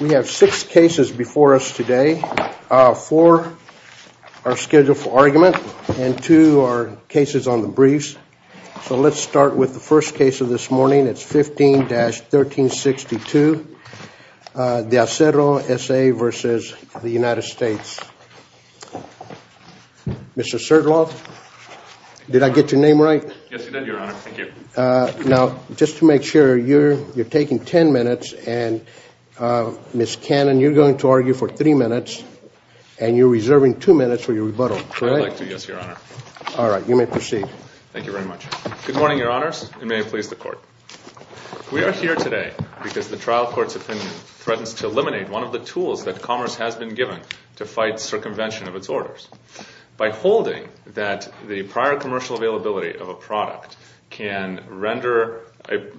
We have six cases before us today, four are scheduled for argument, and two are cases on the briefs. So let's start with the first case of this morning, it's 15-1362, Deacero S.A. v. United States. Mr. Serdlov, did I get your name right? Yes, you did, Your Honor. Thank you. Now, just to make sure, you're taking ten minutes, and Ms. Cannon, you're going to argue for three minutes, and you're reserving two minutes for your rebuttal, correct? I'd like to, yes, Your Honor. All right, you may proceed. Thank you very much. Good morning, Your Honors, and may it please the Court. We are here today because the trial court's opinion threatens to eliminate one of the tools that commerce has been given to fight circumvention of its orders. By holding that the prior commercial availability of a product can render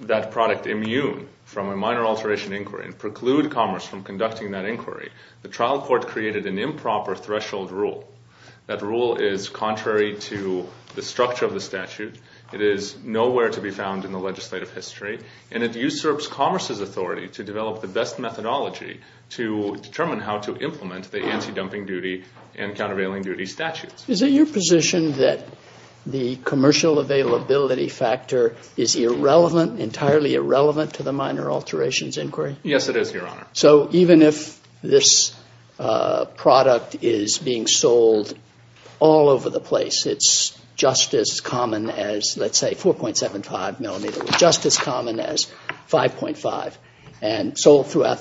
that product immune from a minor alteration inquiry and preclude commerce from conducting that inquiry, the trial court created an improper threshold rule. That rule is contrary to the structure of the statute, it is nowhere to be found in the legislative history, and it usurps commerce's authority to develop the best methodology to determine how to implement the anti-dumping duty and countervailing duty statutes. Is it your position that the commercial availability factor is irrelevant, entirely irrelevant, to the minor alterations inquiry? Yes, it is, Your Honor. So, even if this product is being sold all over the place, it's just as common as, let's say, in the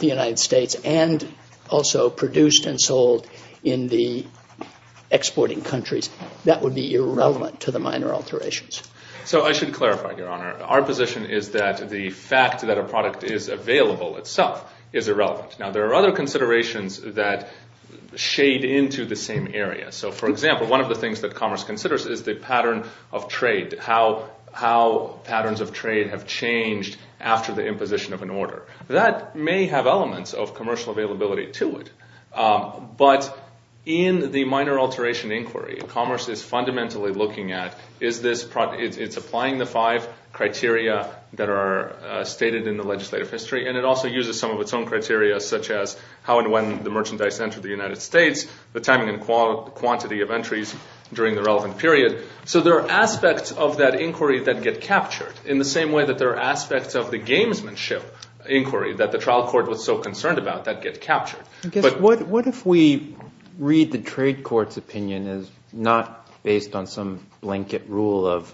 United States, and also produced and sold in the exporting countries, that would be irrelevant to the minor alterations. So I should clarify, Your Honor, our position is that the fact that a product is available itself is irrelevant. Now, there are other considerations that shade into the same area. So, for example, one of the things that commerce considers is the pattern of trade, how patterns of trade have changed after the imposition of an order. That may have elements of commercial availability to it, but in the minor alteration inquiry, commerce is fundamentally looking at, it's applying the five criteria that are stated in the legislative history, and it also uses some of its own criteria, such as how and when the merchandise entered the United States, the timing and quantity of entries during the relevant period. So, there are aspects of that inquiry that get captured, in the same way that there are aspects of inquiry that the trial court was so concerned about that get captured. What if we read the trade court's opinion as not based on some blanket rule of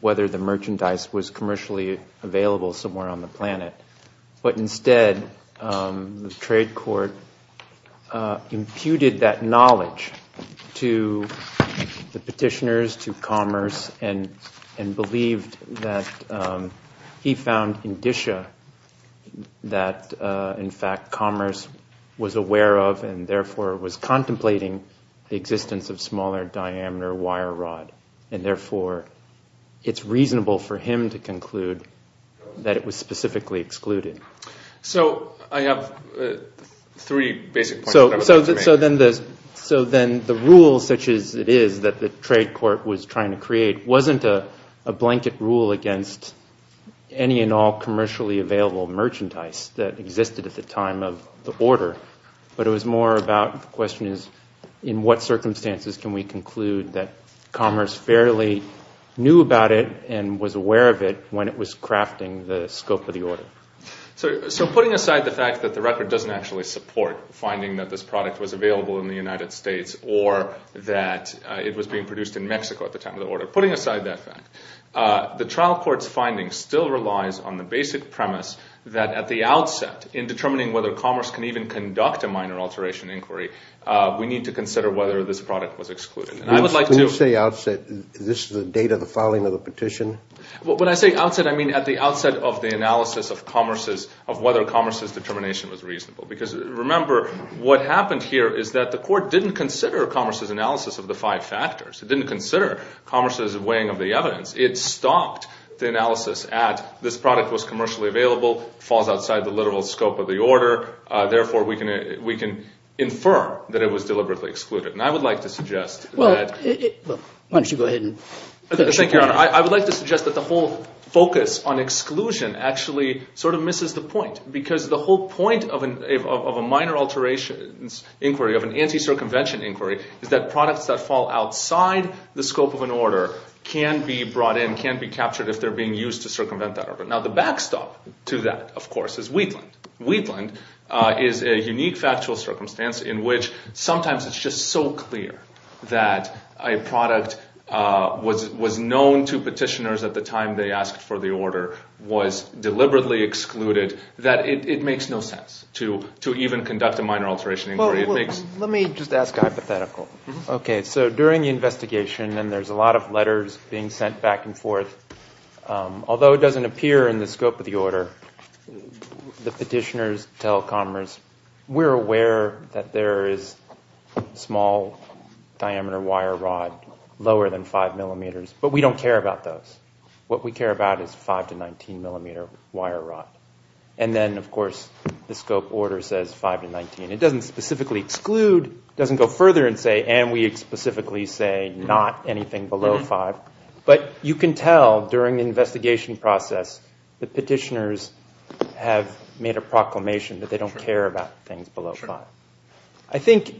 whether the merchandise was commercially available somewhere on the planet, but instead, the trade court imputed that knowledge to the petitioners, to commerce, and believed that he found indicia that, in fact, commerce was aware of and, therefore, was contemplating the existence of smaller diameter wire rod, and, therefore, it's reasonable for him to conclude that it was specifically excluded. So, I have three basic points, whatever that means. So then, the rule, such as it is, that the trade court was trying to create wasn't a any and all commercially available merchandise that existed at the time of the order, but it was more about, the question is, in what circumstances can we conclude that commerce fairly knew about it and was aware of it when it was crafting the scope of the order? So putting aside the fact that the record doesn't actually support finding that this product was available in the United States, or that it was being produced in Mexico at the time of the order, putting aside that fact, the trial court's finding still relies on the basic premise that, at the outset, in determining whether commerce can even conduct a minor alteration inquiry, we need to consider whether this product was excluded. And I would like to... When you say outset, is this the date of the filing of the petition? When I say outset, I mean at the outset of the analysis of whether commerce's determination was reasonable, because, remember, what happened here is that the court didn't consider commerce's weighing of the evidence. It stopped the analysis at, this product was commercially available, falls outside the literal scope of the order, therefore we can infer that it was deliberately excluded. And I would like to suggest that... Well, why don't you go ahead and... Thank you, Your Honor. I would like to suggest that the whole focus on exclusion actually sort of misses the point, because the whole point of a minor alterations inquiry, of an anti-circumvention inquiry, is that products that fall outside the scope of an order can be brought in, can be captured if they're being used to circumvent that order. Now the backstop to that, of course, is Wheatland. Wheatland is a unique factual circumstance in which sometimes it's just so clear that a product was known to petitioners at the time they asked for the order, was deliberately excluded that it makes no sense to even conduct a minor alteration inquiry. Let me just ask a hypothetical. Okay, so during the investigation, and there's a lot of letters being sent back and forth, although it doesn't appear in the scope of the order, the petitioners tell Commerce, we're aware that there is small diameter wire rod lower than 5 millimeters, but we don't care about those. What we care about is 5 to 19 millimeter wire rod. And then, of course, the scope order says 5 to 19. It doesn't specifically exclude, doesn't go further and say, and we specifically say not anything below 5. But you can tell during the investigation process the petitioners have made a proclamation that they don't care about things below 5. I think,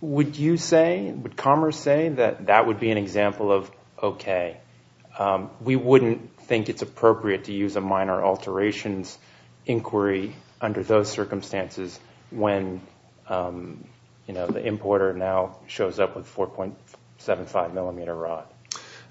would you say, would Commerce say that that would be an example of okay? We wouldn't think it's appropriate to use a minor alterations inquiry under those circumstances when the importer now shows up with 4.75 millimeter rod?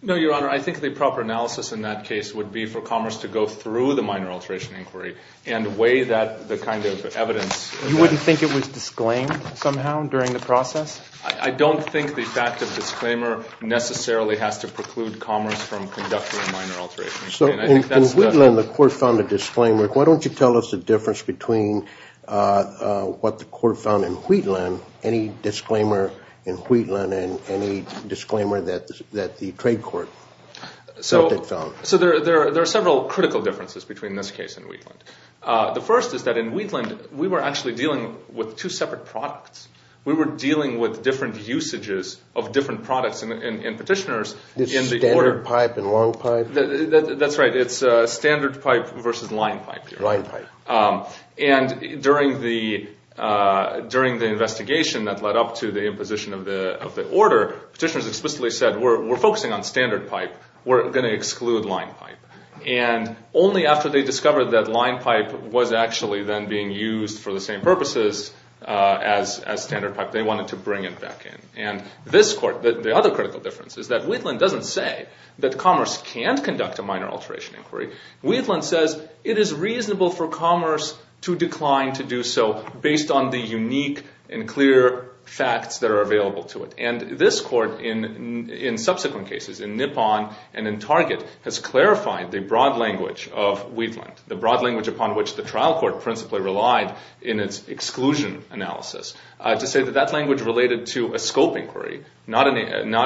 No, your honor. I think the proper analysis in that case would be for Commerce to go through the minor alteration inquiry and weigh that, the kind of evidence. You wouldn't think it was disclaimed somehow during the process? I don't think the fact of disclaimer necessarily has to preclude Commerce from conducting a minor alteration. So in Woodland, the court found a disclaimer. Why don't you tell us the difference between what the court found in Wheatland, any disclaimer in Wheatland, and any disclaimer that the trade court found? So there are several critical differences between this case and Wheatland. The first is that in Wheatland, we were actually dealing with two separate products. We were dealing with different usages of different products and petitioners in the order. Standard pipe and long pipe? That's right. It's standard pipe versus line pipe. And during the investigation that led up to the imposition of the order, petitioners explicitly said, we're focusing on standard pipe. We're going to exclude line pipe. And only after they discovered that line pipe was actually then being used for the same purposes as standard pipe, they wanted to bring it back in. And this court, the other critical difference is that Wheatland doesn't say that Commerce can't conduct a minor alteration inquiry. Wheatland says it is reasonable for Commerce to decline to do so based on the unique and clear facts that are available to it. And this court in subsequent cases, in Nippon and in Target, has clarified the broad language of Wheatland, the broad language upon which the trial court principally relied in its exclusion analysis, to say that that language related to a scope inquiry, not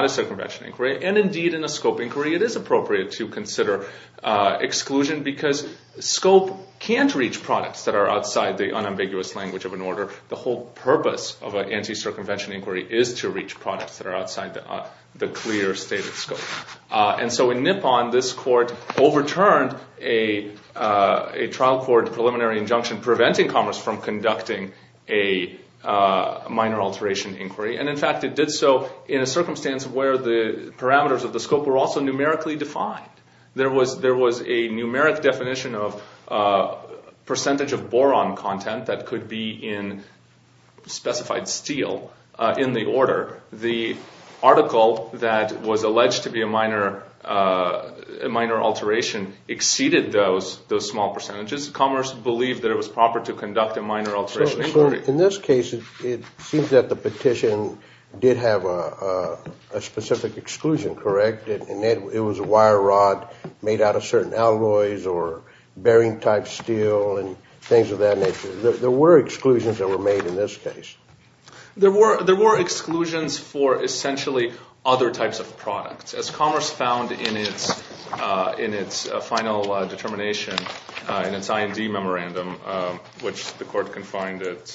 a circumvention inquiry. And indeed, in a scope inquiry, it is appropriate to consider exclusion because scope can't reach products that are outside the unambiguous language of an order. The whole purpose of an anti-circumvention inquiry is to reach products that are outside the clear stated scope. And so in Nippon, this court overturned a trial court preliminary injunction preventing Commerce from conducting a minor alteration inquiry. And in fact, it did so in a circumstance where the parameters of the scope were also numerically defined. There was a numeric definition of percentage of boron content that could be in specified steel in the order. The article that was alleged to be a minor alteration exceeded those small percentages. Commerce believed that it was proper to conduct a minor alteration inquiry. In this case, it seems that the petition did have a specific exclusion, correct? It was a wire rod made out of certain alloys or bearing type steel and things of that nature. There were exclusions that were made in this case. There were exclusions for essentially other types of products. As Commerce found in its final determination in its IND memorandum, which the court confined it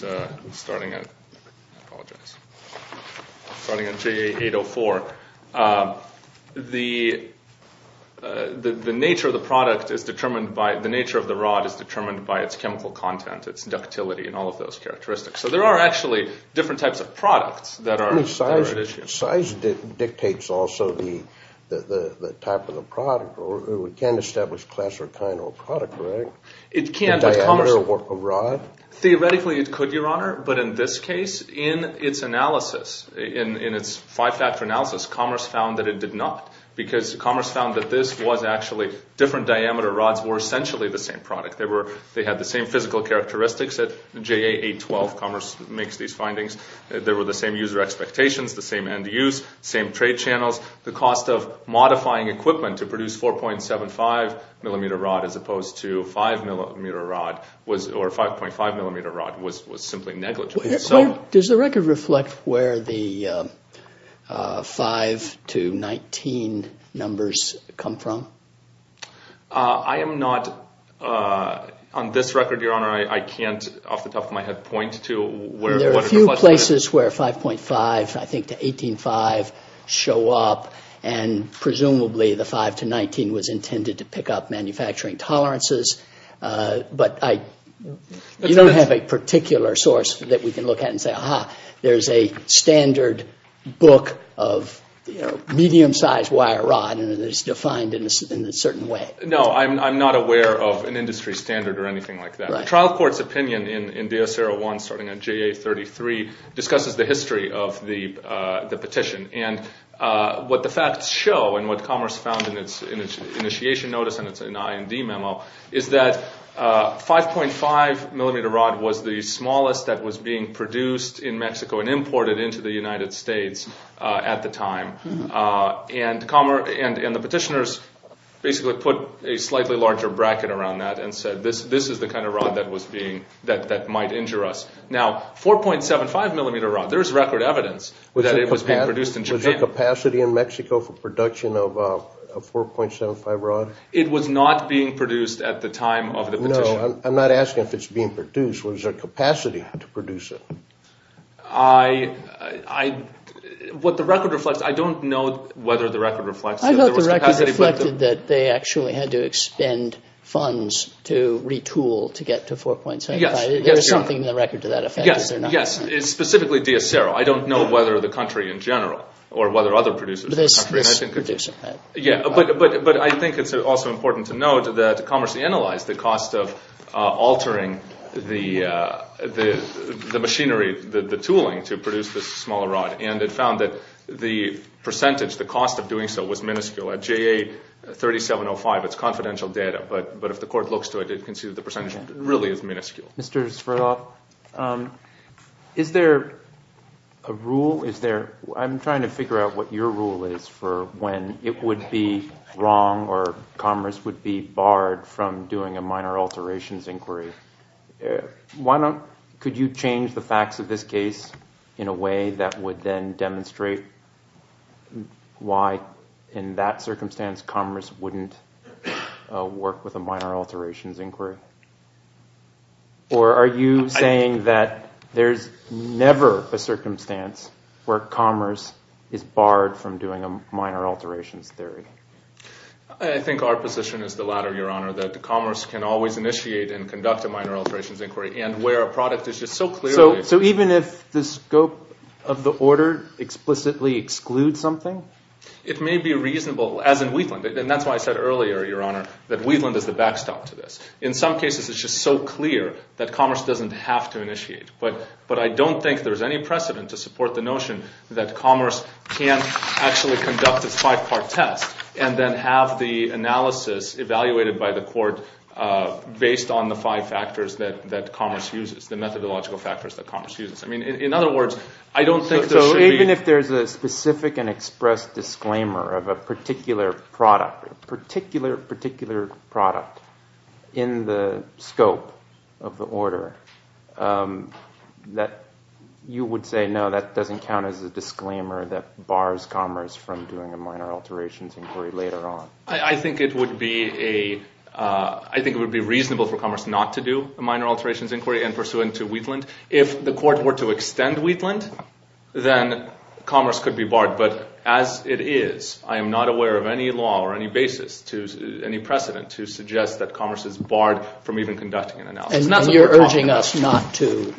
starting at, I apologize, starting at JA804, the nature of the product is determined by, the nature of the rod is determined by its chemical content, its ductility and all of those characteristics. So there are actually different types of products that are at issue. Size dictates also the type of the product. We can't establish class or kind of a product, correct? It can, but Commerce... The diameter of a rod? Theoretically, it could, Your Honor. But in this case, in its analysis, in its five-factor analysis, Commerce found that it did not because Commerce found that this was actually different diameter rods were essentially the same product. They had the same physical characteristics at JA812. Commerce makes these findings. There were the same user expectations, the same end use, same trade channels. The cost of modifying equipment to produce 4.75 millimeter rod as opposed to 5 millimeter rod or 5.5 millimeter rod was simply negligible. Does the record reflect where the 5 to 19 numbers come from? I am not... On this record, Your Honor, I can't off the top of my head point to where... There are a few places where 5.5, I think to 18.5 show up and presumably the 5 to 19 was intended to pick up manufacturing tolerances, but you don't have a particular source that we can look at and say, aha, there's a standard book of medium-sized wire rod and it is defined in a certain way. No, I'm not aware of an industry standard or anything like that. The trial court's opinion in Deocero I starting on JA33 discusses the history of the petition and what the facts show and what Commerce found in its initiation notice and it's an IND memo is that 5.5 millimeter rod was the smallest that was being produced in Mexico and imported into the United States at the time and the petitioners basically put a slightly larger bracket around that and said, this is the kind of rod that might injure us. Now, 4.75 millimeter rod, there's record evidence that it was being produced in Japan. Was there capacity in Mexico for production of 4.75 rod? It was not being produced at the time of the petition. No, I'm not asking if it's being produced. Was there capacity to produce it? What the record reflects, I don't know whether the record reflects... I thought the record reflected that they actually had to expend funds to retool to get to 4.75. There's something in the record to that effect, is there not? Yes, specifically Deocero. I don't know whether the country in general or whether other producers in the country... This producer. But I think it's also important to note that Commerce analyzed the cost of altering the machinery, the tooling to produce this smaller rod and it found that the percentage, the cost of doing so was minuscule. At JA3705, it's confidential data, but if the court looks to it, you can see that the percentage really is minuscule. Mr. Sverdlov, is there a rule, is there... I'm trying to figure out what your rule is for when it would be wrong or Commerce would be barred from doing a minor alterations inquiry. Could you change the facts of this case in a way that would then demonstrate why in that circumstance Commerce wouldn't work with a minor alterations inquiry? Or are you saying that there's never a circumstance where Commerce is barred from doing a minor alterations theory? I think our position is the latter, Your Honor, that Commerce can always initiate and conduct a minor alterations inquiry and where a product is just so clearly... Even if the scope of the order explicitly excludes something? It may be reasonable, as in Wheatland, and that's why I said earlier, Your Honor, that Wheatland is the backstop to this. In some cases, it's just so clear that Commerce doesn't have to initiate, but I don't think there's any precedent to support the notion that Commerce can actually conduct a five-part test and then have the analysis evaluated by the court based on the five factors that Commerce uses, the methodological factors that Commerce uses. I mean, in other words, I don't think there should be... So even if there's a specific and expressed disclaimer of a particular product, a particular, particular product in the scope of the order, that you would say, no, that doesn't count as a disclaimer that bars Commerce from doing a minor alterations inquiry later on? I think it would be reasonable for Commerce not to do a minor alterations inquiry and pursue into Wheatland. If the court were to extend Wheatland, then Commerce could be barred. But as it is, I am not aware of any law or any basis, any precedent, to suggest that Commerce is barred from even conducting an analysis. And you're urging us not to,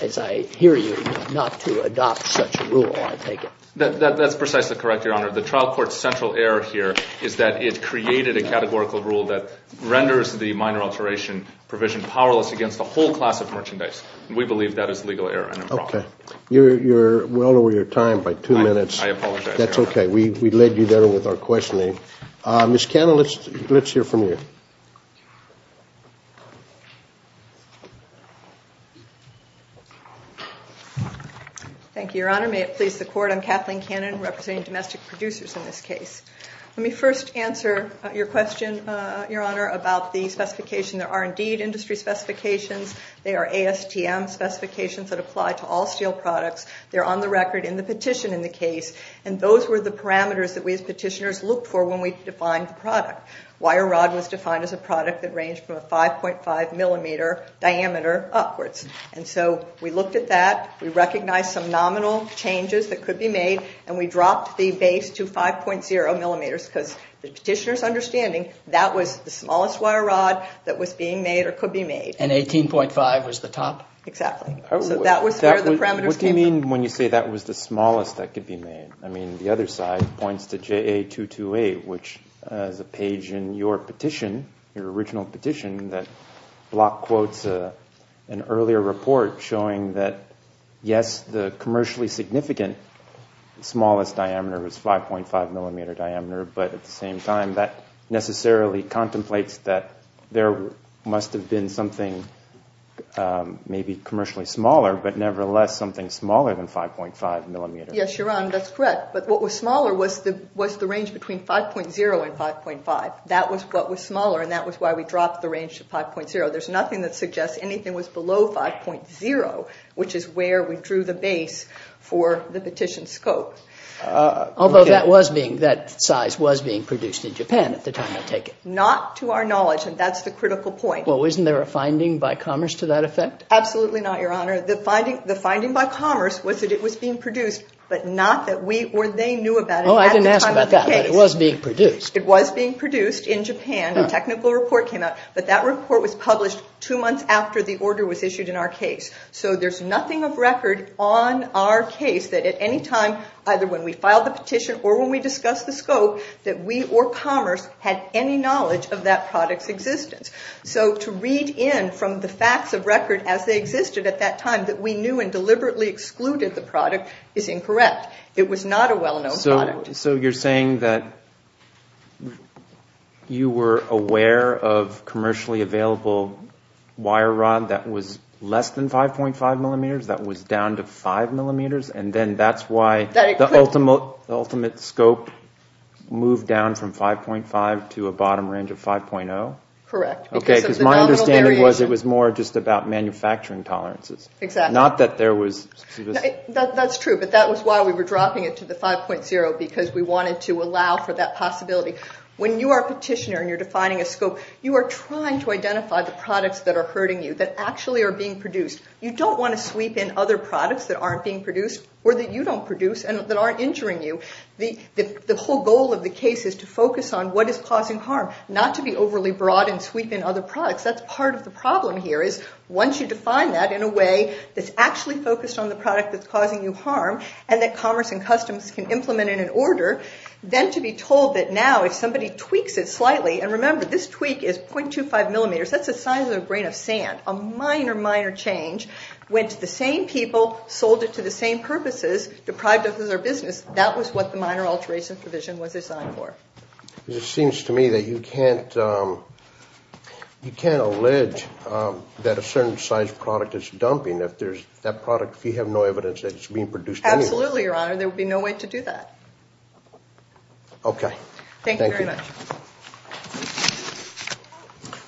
as I hear you, not to adopt such a rule, I take it? That's precisely correct, Your Honor. The trial court's central error here is that it created a categorical rule that renders the minor alteration provision powerless against a whole class of merchandise. And we believe that is legal error and improper. Okay. You're well over your time by two minutes. I apologize, Your Honor. That's okay. We led you there with our questioning. Ms. Cannon, let's hear from you. Thank you, Your Honor. May it please the court, I'm Kathleen Cannon, representing domestic producers in this case. Let me first answer your question, Your Honor, about the specification. There are indeed industry specifications. They are ASTM specifications that apply to all steel products. They're on the record in the petition in the case. And those were the parameters that we, as petitioners, looked for when we defined the product. Wire rod was defined as a product that ranged from a 5.5 millimeter diameter upwards. And so we looked at that. We recognized some nominal changes that could be made. And we dropped the base to 5.0 millimeters because the petitioner's understanding that was the smallest wire rod that was being made or could be made. And 18.5 was the top. Exactly. So that was where the parameters came from. What do you mean when you say that was the smallest that could be made? I mean, the other side points to JA228, which is a page in your petition, your original petition, that block quotes an earlier report showing that, yes, the commercially significant smallest diameter was 5.5 millimeter diameter. But at the same time, that necessarily contemplates that there must have been something maybe commercially smaller, but nevertheless, something smaller than 5.5 millimeters. Yes, you're on. That's correct. But what was smaller was the range between 5.0 and 5.5. That was what was smaller. And that was why we dropped the range to 5.0. There's nothing that suggests anything was below 5.0, which is where we drew the base for the petition scope. Although that size was being produced in Japan at the time, I take it? Not to our knowledge. And that's the critical point. Well, wasn't there a finding by Commerce to that effect? Absolutely not, Your Honor. The finding by Commerce was that it was being produced, but not that we or they knew about it. Oh, I didn't ask about that. But it was being produced. It was being produced in Japan. A technical report came out. But that report was published two months after the order was issued in our case. So there's nothing of record on our case that at any time, either when we filed the petition or when we discussed the scope, that we or Commerce had any knowledge of that product's existence. So to read in from the facts of record as they existed at that time that we knew and deliberately excluded the product is incorrect. It was not a well-known product. So you're saying that you were aware of commercially available wire rod that was less than 5.5 millimeters, that was down to 5 millimeters, and then that's why the ultimate scope moved down from 5.5 to a bottom range of 5.0? Correct. Okay, because my understanding was it was more just about manufacturing tolerances. Exactly. Not that there was... That's true. But that was why we were dropping it to the 5.0, because we wanted to allow for that possibility. When you are a petitioner and you're defining a scope, you are trying to identify the products that are hurting you, that actually are being produced. You don't want to sweep in other products that aren't being produced or that you don't produce and that aren't injuring you. The whole goal of the case is to focus on what is causing harm, not to be overly broad and sweep in other products. That's part of the problem here is once you define that in a way that's actually focused on the product that's causing you harm and that Commerce and Customs can implement in an order, then to be told that now if somebody tweaks it slightly, and remember this tweak is 0.25 millimeters, that's the size of a grain of sand. A minor, minor change went to the same people, sold it to the same purposes, deprived of their business. That was what the minor alteration provision was assigned for. It seems to me that you can't... You can't allege that a certain size product is dumping if there's that product, if you have no evidence that it's being produced. Absolutely, Your Honor. There would be no way to do that. Okay. Thank you very much.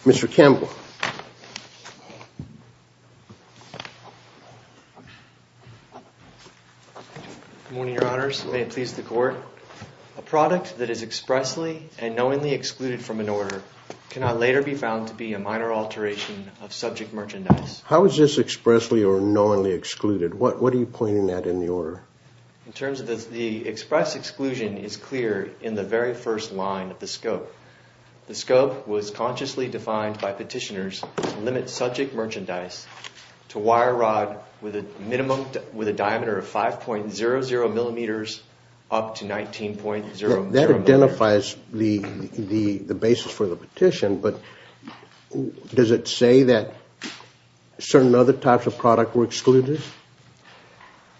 Mr. Campbell. Good morning, Your Honors. May it please the Court. A product that is expressly and knowingly excluded from an order cannot later be found to be a minor alteration of subject merchandise. How is this expressly or knowingly excluded? What are you pointing at in the order? In terms of the express exclusion is clear in the very first line of the scope of the order. The scope was consciously defined by petitioners to limit subject merchandise to wire rod with a diameter of 5.00 millimeters up to 19.0 millimeters. That identifies the basis for the petition, but does it say that certain other types of product were excluded?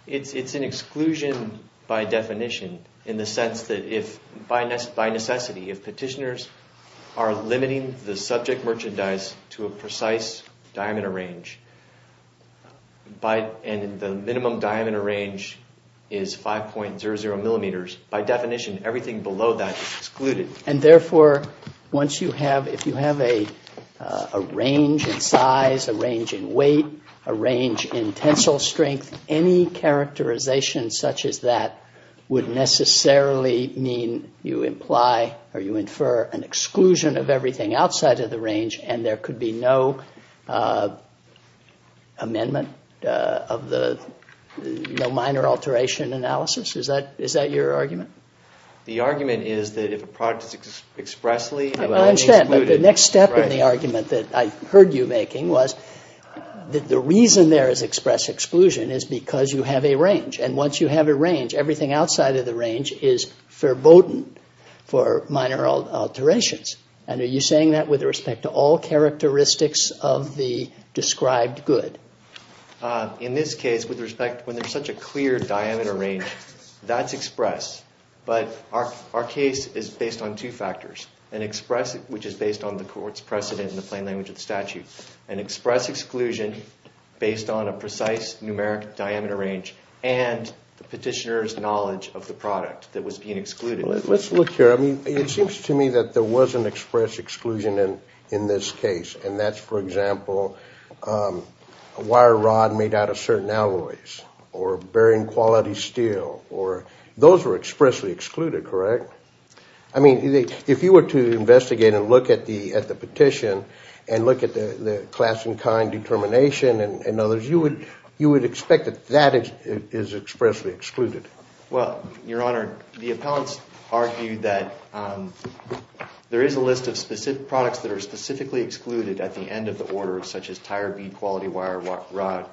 It's an exclusion by definition, in the sense that if by necessity, if petitioners are limiting the subject merchandise to a precise diameter range, and the minimum diameter range is 5.00 millimeters, by definition, everything below that is excluded. And therefore, once you have, if you have a range in size, a range in weight, a range in tensile strength, any characterization such as that would necessarily mean you imply or you infer an exclusion of everything outside of the range, and there could be no amendment of the no minor alteration analysis. Is that your argument? The argument is that if a product is expressly and knowingly excluded. The next step in the argument that I heard you making was that the reason there is express exclusion is because you have a range. And once you have a range, everything outside of the range is foreboding for minor alterations. And are you saying that with respect to all characteristics of the described good? In this case, with respect, when there's such a clear diameter range, that's express. But our case is based on two factors. An express, which is based on the court's precedent in the plain language of the statute. An express exclusion based on a precise numeric diameter range and the petitioner's knowledge of the product that was being excluded. Let's look here. I mean, it seems to me that there was an express exclusion in this case. And that's, for example, a wire rod made out of certain alloys or bearing quality steel, or those were expressly excluded, correct? I mean, if you were to investigate and look at the petition and look at the class and kind determination and others, you would expect that that is expressly excluded. Well, Your Honor, the appellants argued that there is a list of specific products that are specifically excluded at the end of the order, such as tire bead quality wire rod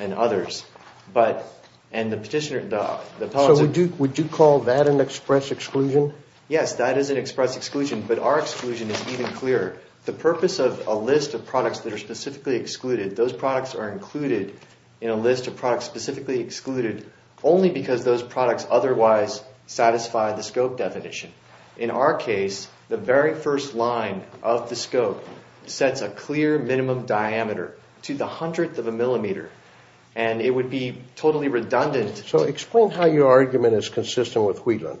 and others. But, and the petitioner, the appellants... So would you call that an express exclusion? Yes, that is an express exclusion. But our exclusion is even clearer. The purpose of a list of products that are specifically excluded, those products are included in a list of products specifically excluded only because those products otherwise satisfy the scope definition. In our case, the very first line of the scope sets a clear minimum diameter to the hundredth of a millimeter. And it would be totally redundant. So explain how your argument is consistent with Wheatland.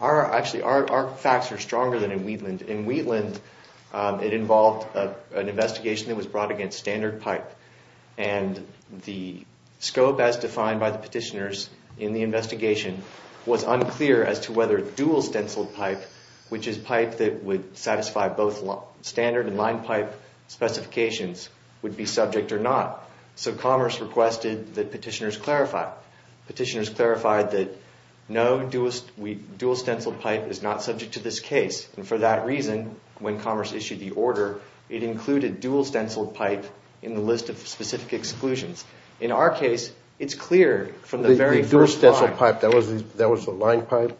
Actually, our facts are stronger than in Wheatland. In Wheatland, it involved an investigation that was brought against standard pipe. And the scope as defined by the petitioners in the investigation was unclear as to whether dual stenciled pipe, which is pipe that would satisfy both standard and line pipe specifications, would be subject or not. So Commerce requested that petitioners clarify. Petitioners clarified that no dual stenciled pipe is not subject to this case. And for that reason, when Commerce issued the order, it included dual stenciled pipe in the list of specific exclusions. In our case, it's clear from the very first line. Dual stenciled pipe, that was the line pipe?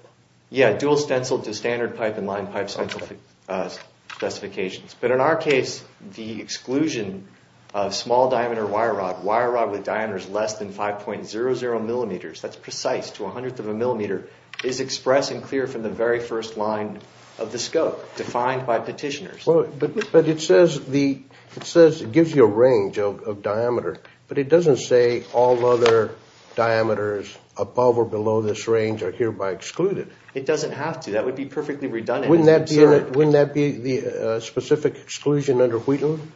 Yeah, dual stenciled to standard pipe and line pipe specifications. But in our case, the exclusion of small diameter wire rod, wire rod with diameters less than 5.00 millimeters, that's precise to a hundredth of a millimeter, is expressed and clear from the very first line of the scope defined by petitioners. But it says it gives you a range of diameter, but it doesn't say all other diameters above or below this range are hereby excluded. It doesn't have to. That would be perfectly redundant. Wouldn't that be the specific exclusion under Wheatland?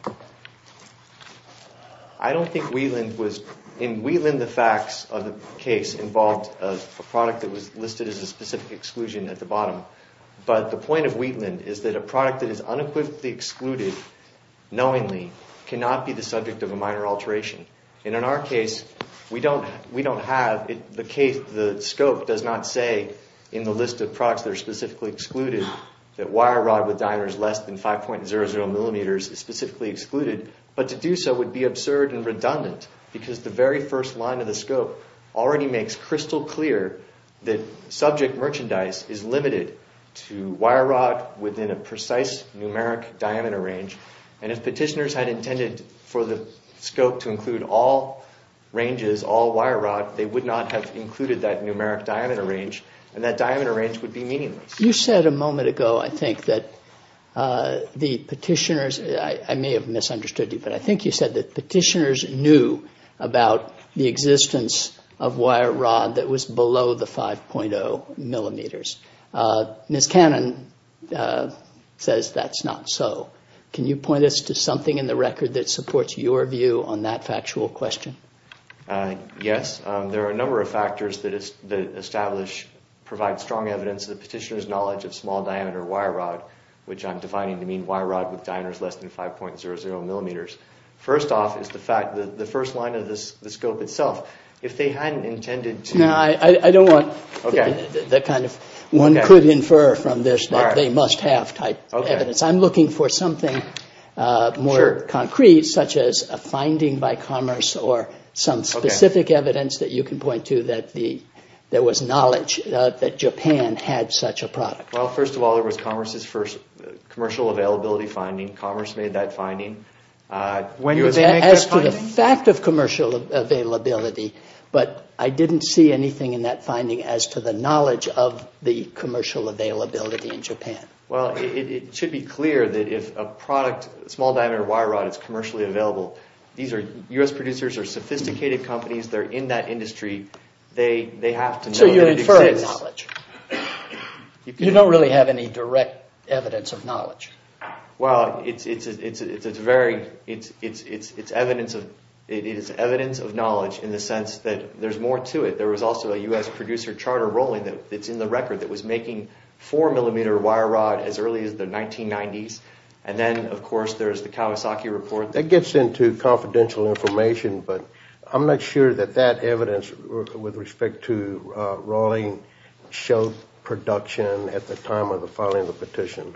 I don't think Wheatland was... In Wheatland, the facts of the case involved a product that was listed as a specific exclusion at the bottom. But the point of Wheatland is that a product that is unequivocally excluded, knowingly, cannot be the subject of a minor alteration. And in our case, we don't have... The scope does not say in the list of products that are specifically excluded that wire rod with diameters less than 5.00 millimeters is specifically excluded. But to do so would be absurd and redundant because the very first line of the scope already makes crystal clear that subject merchandise is limited to wire rod within a precise numeric diameter range. And if petitioners had intended for the scope to include all ranges, all wire rod, they would not have included that numeric diameter range. And that diameter range would be meaningless. You said a moment ago, I think, that the petitioners... I may have misunderstood you, I think you said that petitioners knew about the existence of wire rod that was below the 5.0 millimeters. Ms. Cannon says that's not so. Can you point us to something in the record that supports your view on that factual question? Yes. There are a number of factors that establish, provide strong evidence of the petitioner's knowledge of small diameter wire rod, which I'm defining to mean wire rod with diameters less than 5.00 millimeters. First off is the fact that the first line of the scope itself, if they hadn't intended to... No, I don't want that kind of, one could infer from this that they must have type of evidence. I'm looking for something more concrete, such as a finding by Commerce or some specific evidence that you can point to that there was knowledge that Japan had such a product. Well, first of all, there was Commerce's first commercial availability finding. Commerce made that finding. As to the fact of commercial availability, but I didn't see anything in that finding as to the knowledge of the commercial availability in Japan. Well, it should be clear that if a product, small diameter wire rod is commercially available, these are US producers, they're sophisticated companies, they're in that industry, they have to know that it exists. So you're inferring knowledge. You don't really have any direct evidence of knowledge. Well, it's evidence of knowledge in the sense that there's more to it. There was also a US producer, Charter Rolling, that's in the record, that was making four millimeter wire rod as early as the 1990s. And then, of course, there's the Kawasaki report. That gets into confidential information, but I'm not sure that that evidence with respect to Rolling showed production at the time of the filing of the petition.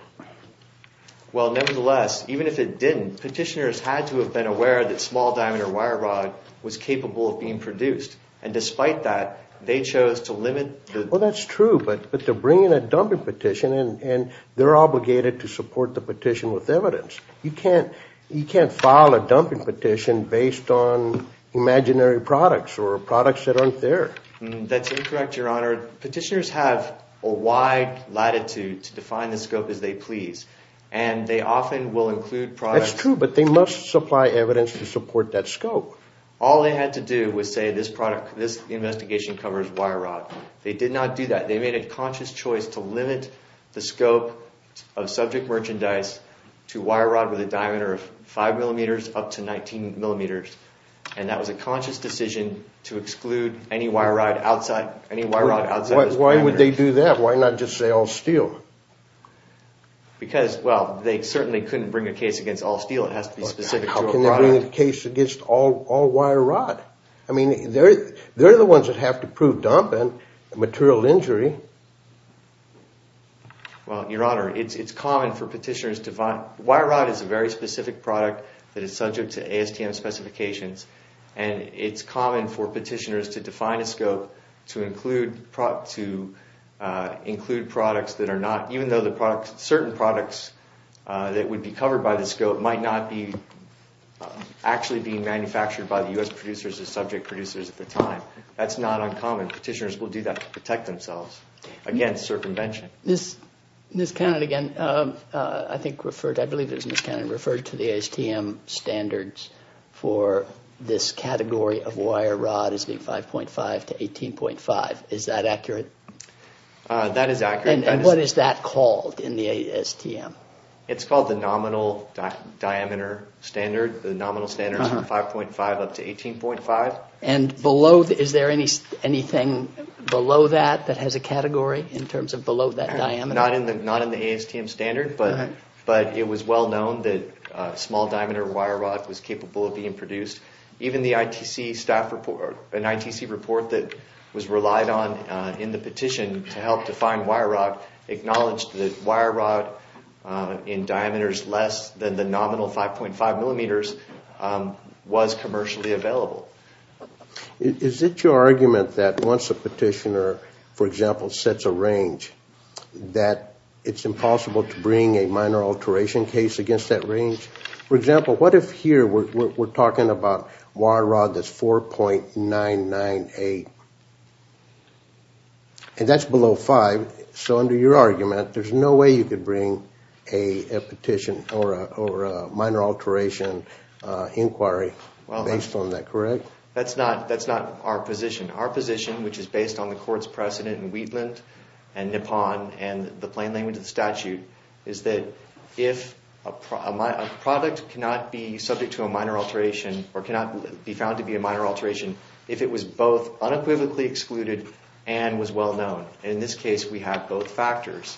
Well, nevertheless, even if it didn't, petitioners had to have been aware that small diameter wire rod was capable of being produced. And despite that, they chose to limit the... Well, that's true, but they're bringing a dumping petition and they're obligated to support the petition with evidence. You can't file a dumping petition based on imaginary products or products that aren't there. That's incorrect, Your Honor. Petitioners have a wide latitude to define the scope as they please. And they often will include products... That's true, but they must supply evidence to support that scope. All they had to do was say, this product, this investigation covers wire rod. They did not do that. They made a conscious choice to limit the scope of subject merchandise to wire rod with a diameter of five millimeters up to 19 millimeters. And that was a conscious decision to exclude any wire rod outside... Why would they do that? Why not just say all steel? Because, well, they certainly couldn't bring a case against all steel. It has to be specific to a product. How can they bring a case against all wire rod? I mean, they're the ones that have to prove dumping and material injury. Well, Your Honor, it's common for petitioners to find... that is subject to ASTM specifications. And it's common for petitioners to define a scope to include products that are not... Even though certain products that would be covered by the scope might not be actually being manufactured by the U.S. producers or subject producers at the time. That's not uncommon. Petitioners will do that to protect themselves against circumvention. Ms. Cannon, again, I think referred... I believe it was Ms. Cannon who referred to the ASTM standards for this category of wire rod as being 5.5 to 18.5. Is that accurate? That is accurate. And what is that called in the ASTM? It's called the nominal diameter standard. The nominal standard is 5.5 up to 18.5. And below... Is there anything below that that has a category in terms of below that diameter? Not in the ASTM standard. But it was well known that a small diameter wire rod was capable of being produced. Even the ITC staff report... An ITC report that was relied on in the petition to help define wire rod acknowledged that wire rod in diameters less than the nominal 5.5 millimeters was commercially available. Is it your argument that once a petitioner, for example, sets a range that it's impossible to bring a minor alteration case against that range? For example, what if here we're talking about wire rod that's 4.998? And that's below 5. So under your argument, there's no way you could bring a petition or a minor alteration inquiry based on that, correct? That's not our position. Our position, which is based on the court's precedent in Wheatland and Nippon and the plain language of the statute, is that if a product cannot be subject to a minor alteration or cannot be found to be a minor alteration if it was both unequivocally excluded and was well known. In this case, we have both factors.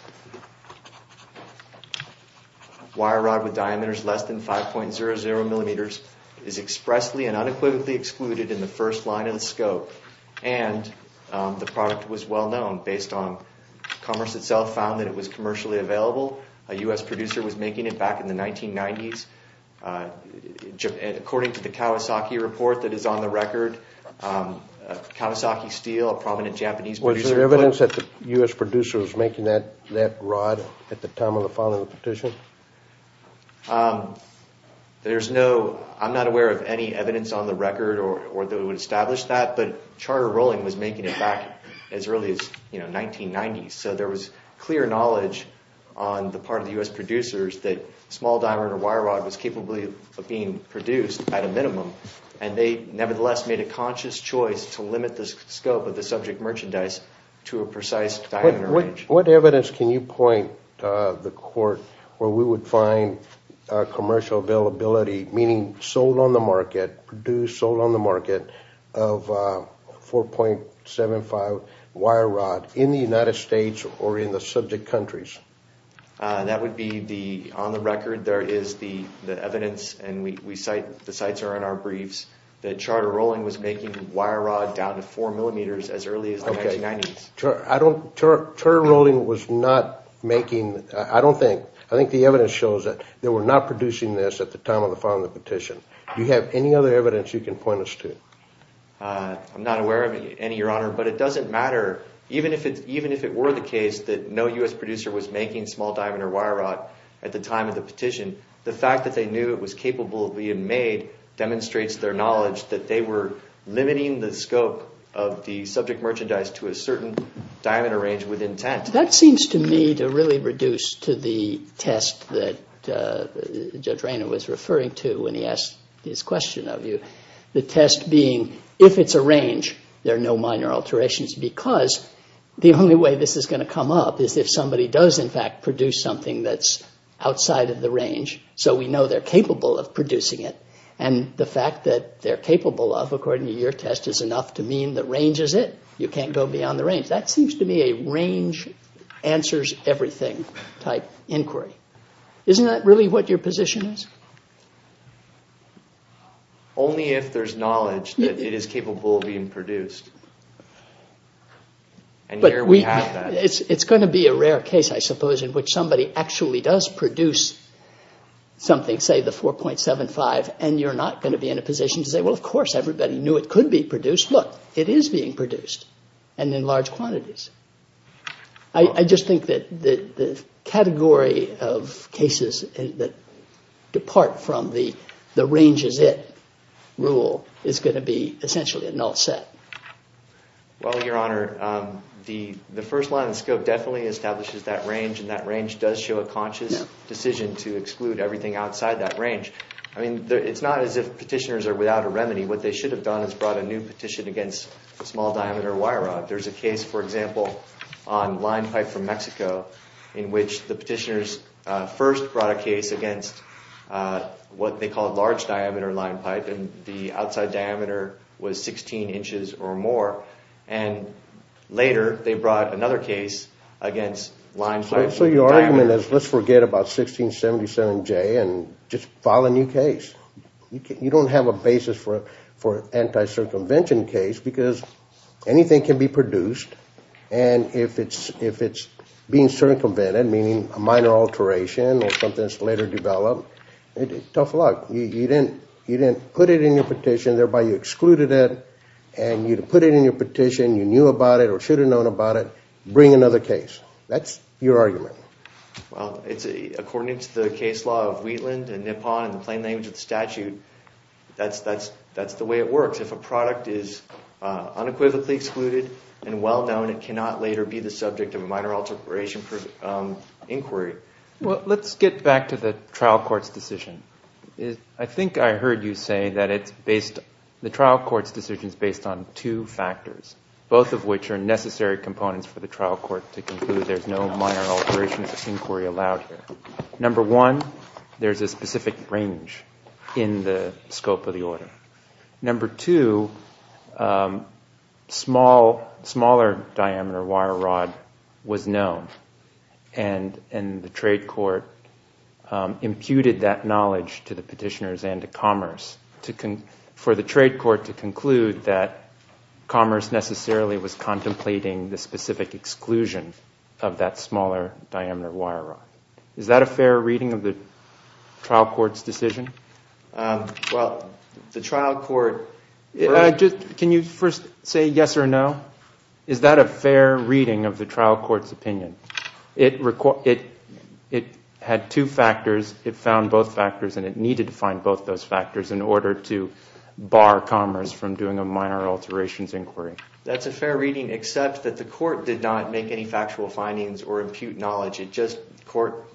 Wire rod with diameters less than 5.00 millimeters is expressly and unequivocally excluded in the first line of the scope and the product was well known based on commerce itself found that it was commercially available. A U.S. producer was making it back in the 1990s. And according to the Kawasaki report that is on the record, Kawasaki Steel, a prominent Japanese producer... Was there evidence that the U.S. producer was making that rod at the time of the filing of the petition? I'm not aware of any evidence on the record or that would establish that, but Charter Rolling was making it back as early as 1990s. So there was clear knowledge on the part of the U.S. producers that small diameter wire rod was capable of being produced at a minimum and they nevertheless made a conscious choice to limit the scope of the subject merchandise to a precise diameter range. What evidence can you point the court where we would find commercial availability, meaning sold on the market, produced sold on the market, of 4.75 wire rod in the United States or in the subject countries? That would be the on the record. There is the evidence and we cite the sites are in our briefs that Charter Rolling was making wire rod down to four millimeters as early as the 1990s. I don't... Charter Rolling was not making... I don't think... I think the evidence shows that they were not producing this at the time of the filing of the petition. Do you have any other evidence you can point us to? I'm not aware of any, Your Honor, but it doesn't matter. Even if it were the case that no U.S. producer was making small diameter wire rod at the time of the petition, the fact that they knew it was capable of being made demonstrates their knowledge that they were limiting the scope of the subject merchandise to a certain diameter range with intent. That seems to me to really reduce to the test that Judge Rayner was referring to when he asked his question of you. The test being, if it's a range, there are no minor alterations because the only way this is going to come up is if somebody does, in fact, produce something that's outside of the range so we know they're capable of producing it. And the fact that they're capable of, according to your test, is enough to mean that range is it. You can't go beyond the range. That seems to me a range answers everything type inquiry. Isn't that really what your position is? Only if there's knowledge that it is capable of being produced. And here we have that. It's going to be a rare case, I suppose, in which somebody actually does produce something, say the 4.75, and you're not going to be in a position to say, of course, everybody knew it could be produced. Look, it is being produced and in large quantities. I just think that the category of cases that depart from the range is it rule is going to be essentially a null set. Well, Your Honor, the first line of the scope definitely establishes that range and that range does show a conscious decision to exclude everything outside that range. I mean, it's not as if petitioners are without a remedy. What they should have done is brought a new petition against a small diameter wire rod. There's a case, for example, on line pipe from Mexico in which the petitioners first brought a case against what they called large diameter line pipe and the outside diameter was 16 inches or more. And later, they brought another case against line pipe. So your argument is let's forget about 1677J and just file a new case. You don't have a basis for anti-circumvention case because anything can be produced. And if it's being circumvented, meaning a minor alteration or something that's later developed, tough luck. You didn't put it in your petition, thereby you excluded it. And you put it in your petition, you knew about it or should have known about it, bring another case. That's your argument. Well, according to the case law of Wheatland and Nippon and the plain language of the statute, that's the way it works. If a product is unequivocally excluded and well-known, it cannot later be the subject of a minor alteration inquiry. Well, let's get back to the trial court's decision. I think I heard you say that the trial court's decision is based on two factors, both of which are necessary components for the trial court to conclude there's no minor alteration inquiry allowed here. Number one, there's a specific range in the scope of the order. Number two, smaller diameter wire rod was known. And the trade court imputed that knowledge to the petitioners and to commerce for the trade court to conclude that commerce necessarily was contemplating the specific exclusion of that smaller diameter wire rod. Is that a fair reading of the trial court's decision? Well, the trial court. Can you first say yes or no? Is that a fair reading of the trial court's opinion? It had two factors. It found both factors, and it needed to find both those factors in order to bar commerce from doing a minor alterations inquiry. That's a fair reading, except that the court did not make any factual findings or impute knowledge. It just court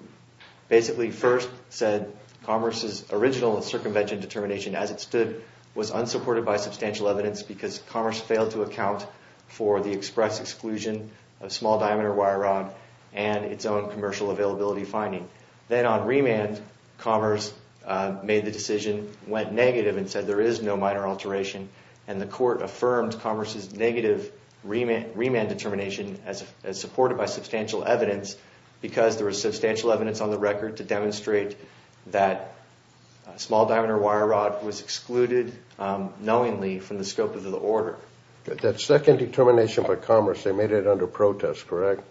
basically first said commerce's original circumvention determination as it stood was unsupported by substantial evidence because commerce failed to account for the express exclusion of small diameter wire rod and its own commercial availability finding. Then on remand, commerce made the decision, went negative, and said there is no minor alteration. And the court affirmed commerce's negative remand determination as supported by substantial evidence because there was substantial evidence on the record to demonstrate that small diameter wire rod was excluded knowingly from the scope of the order. That second determination for commerce, they made it under protest, correct?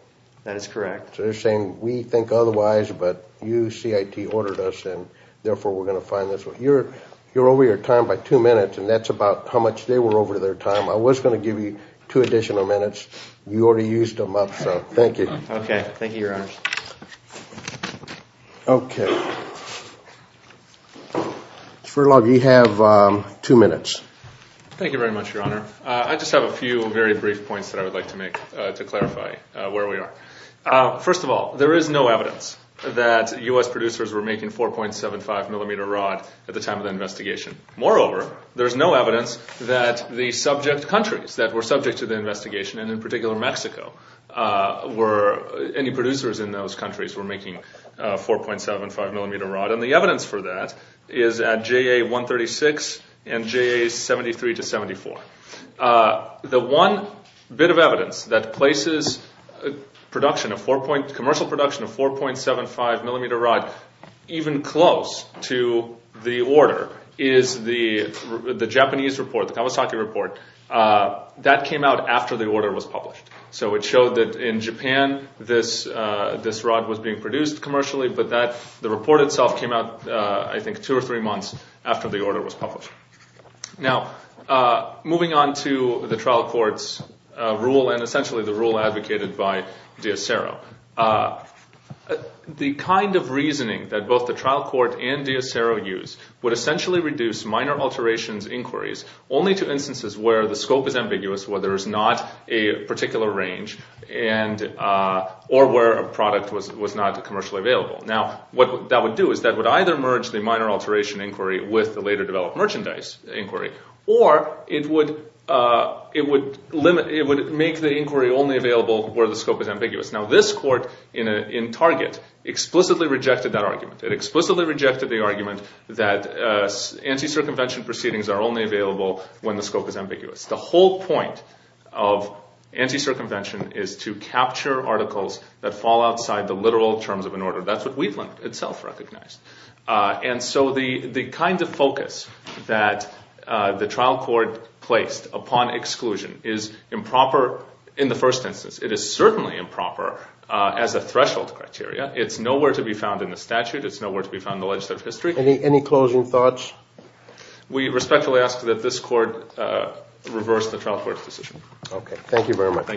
That is correct. So they're saying we think otherwise, but you CIT ordered us, and therefore we're going to find this one. You're over your time by two minutes, and that's about how much they were over their time. I was going to give you two additional minutes. You already used them up, so thank you. OK. Thank you, Your Honor. OK. Mr. Furlog, you have two minutes. Thank you very much, Your Honor. I just have a few very brief points that I would like to make to clarify where we are. First of all, there is no evidence that US producers were making 4.75 millimeter rod at the time of the investigation. Moreover, there's no evidence that the subject countries that were subject to the investigation, and in particular Mexico, any producers in those countries were making 4.75 millimeter rod. And the evidence for that is at JA 136 and JA 73 to 74. The one bit of evidence that places commercial production of 4.75 millimeter rod even close to the order is the Japanese report, the Kawasaki report. That came out after the order was published. So it showed that in Japan, this rod was being produced commercially, but the report itself came out, I think, two or three months after the order was published. Now, moving on to the trial court's rule and essentially the rule advocated by D'Acero. The kind of reasoning that both the trial court and D'Acero use would essentially reduce minor alterations inquiries only to instances where the scope is ambiguous, where there is not a particular range or where a product was not commercially available. Now, what that would do is that would either merge the minor alteration inquiry with the later developed merchandise inquiry, or it would make the inquiry only available where the scope is ambiguous. Now, this court in Target explicitly rejected that argument. It explicitly rejected the argument that anti-circumvention proceedings are only available when the scope is ambiguous. The whole point of anti-circumvention is to capture articles that fall outside the literal terms of an order. That's what Wheatland itself recognized. And so the kind of focus that the trial court placed upon exclusion is improper in the first instance. It is certainly improper as a threshold criteria. It's nowhere to be found in the statute. It's nowhere to be found in the legislative history. Any closing thoughts? We respectfully ask that this court reverse the trial court's decision. Okay. Thank you very much. Thank you.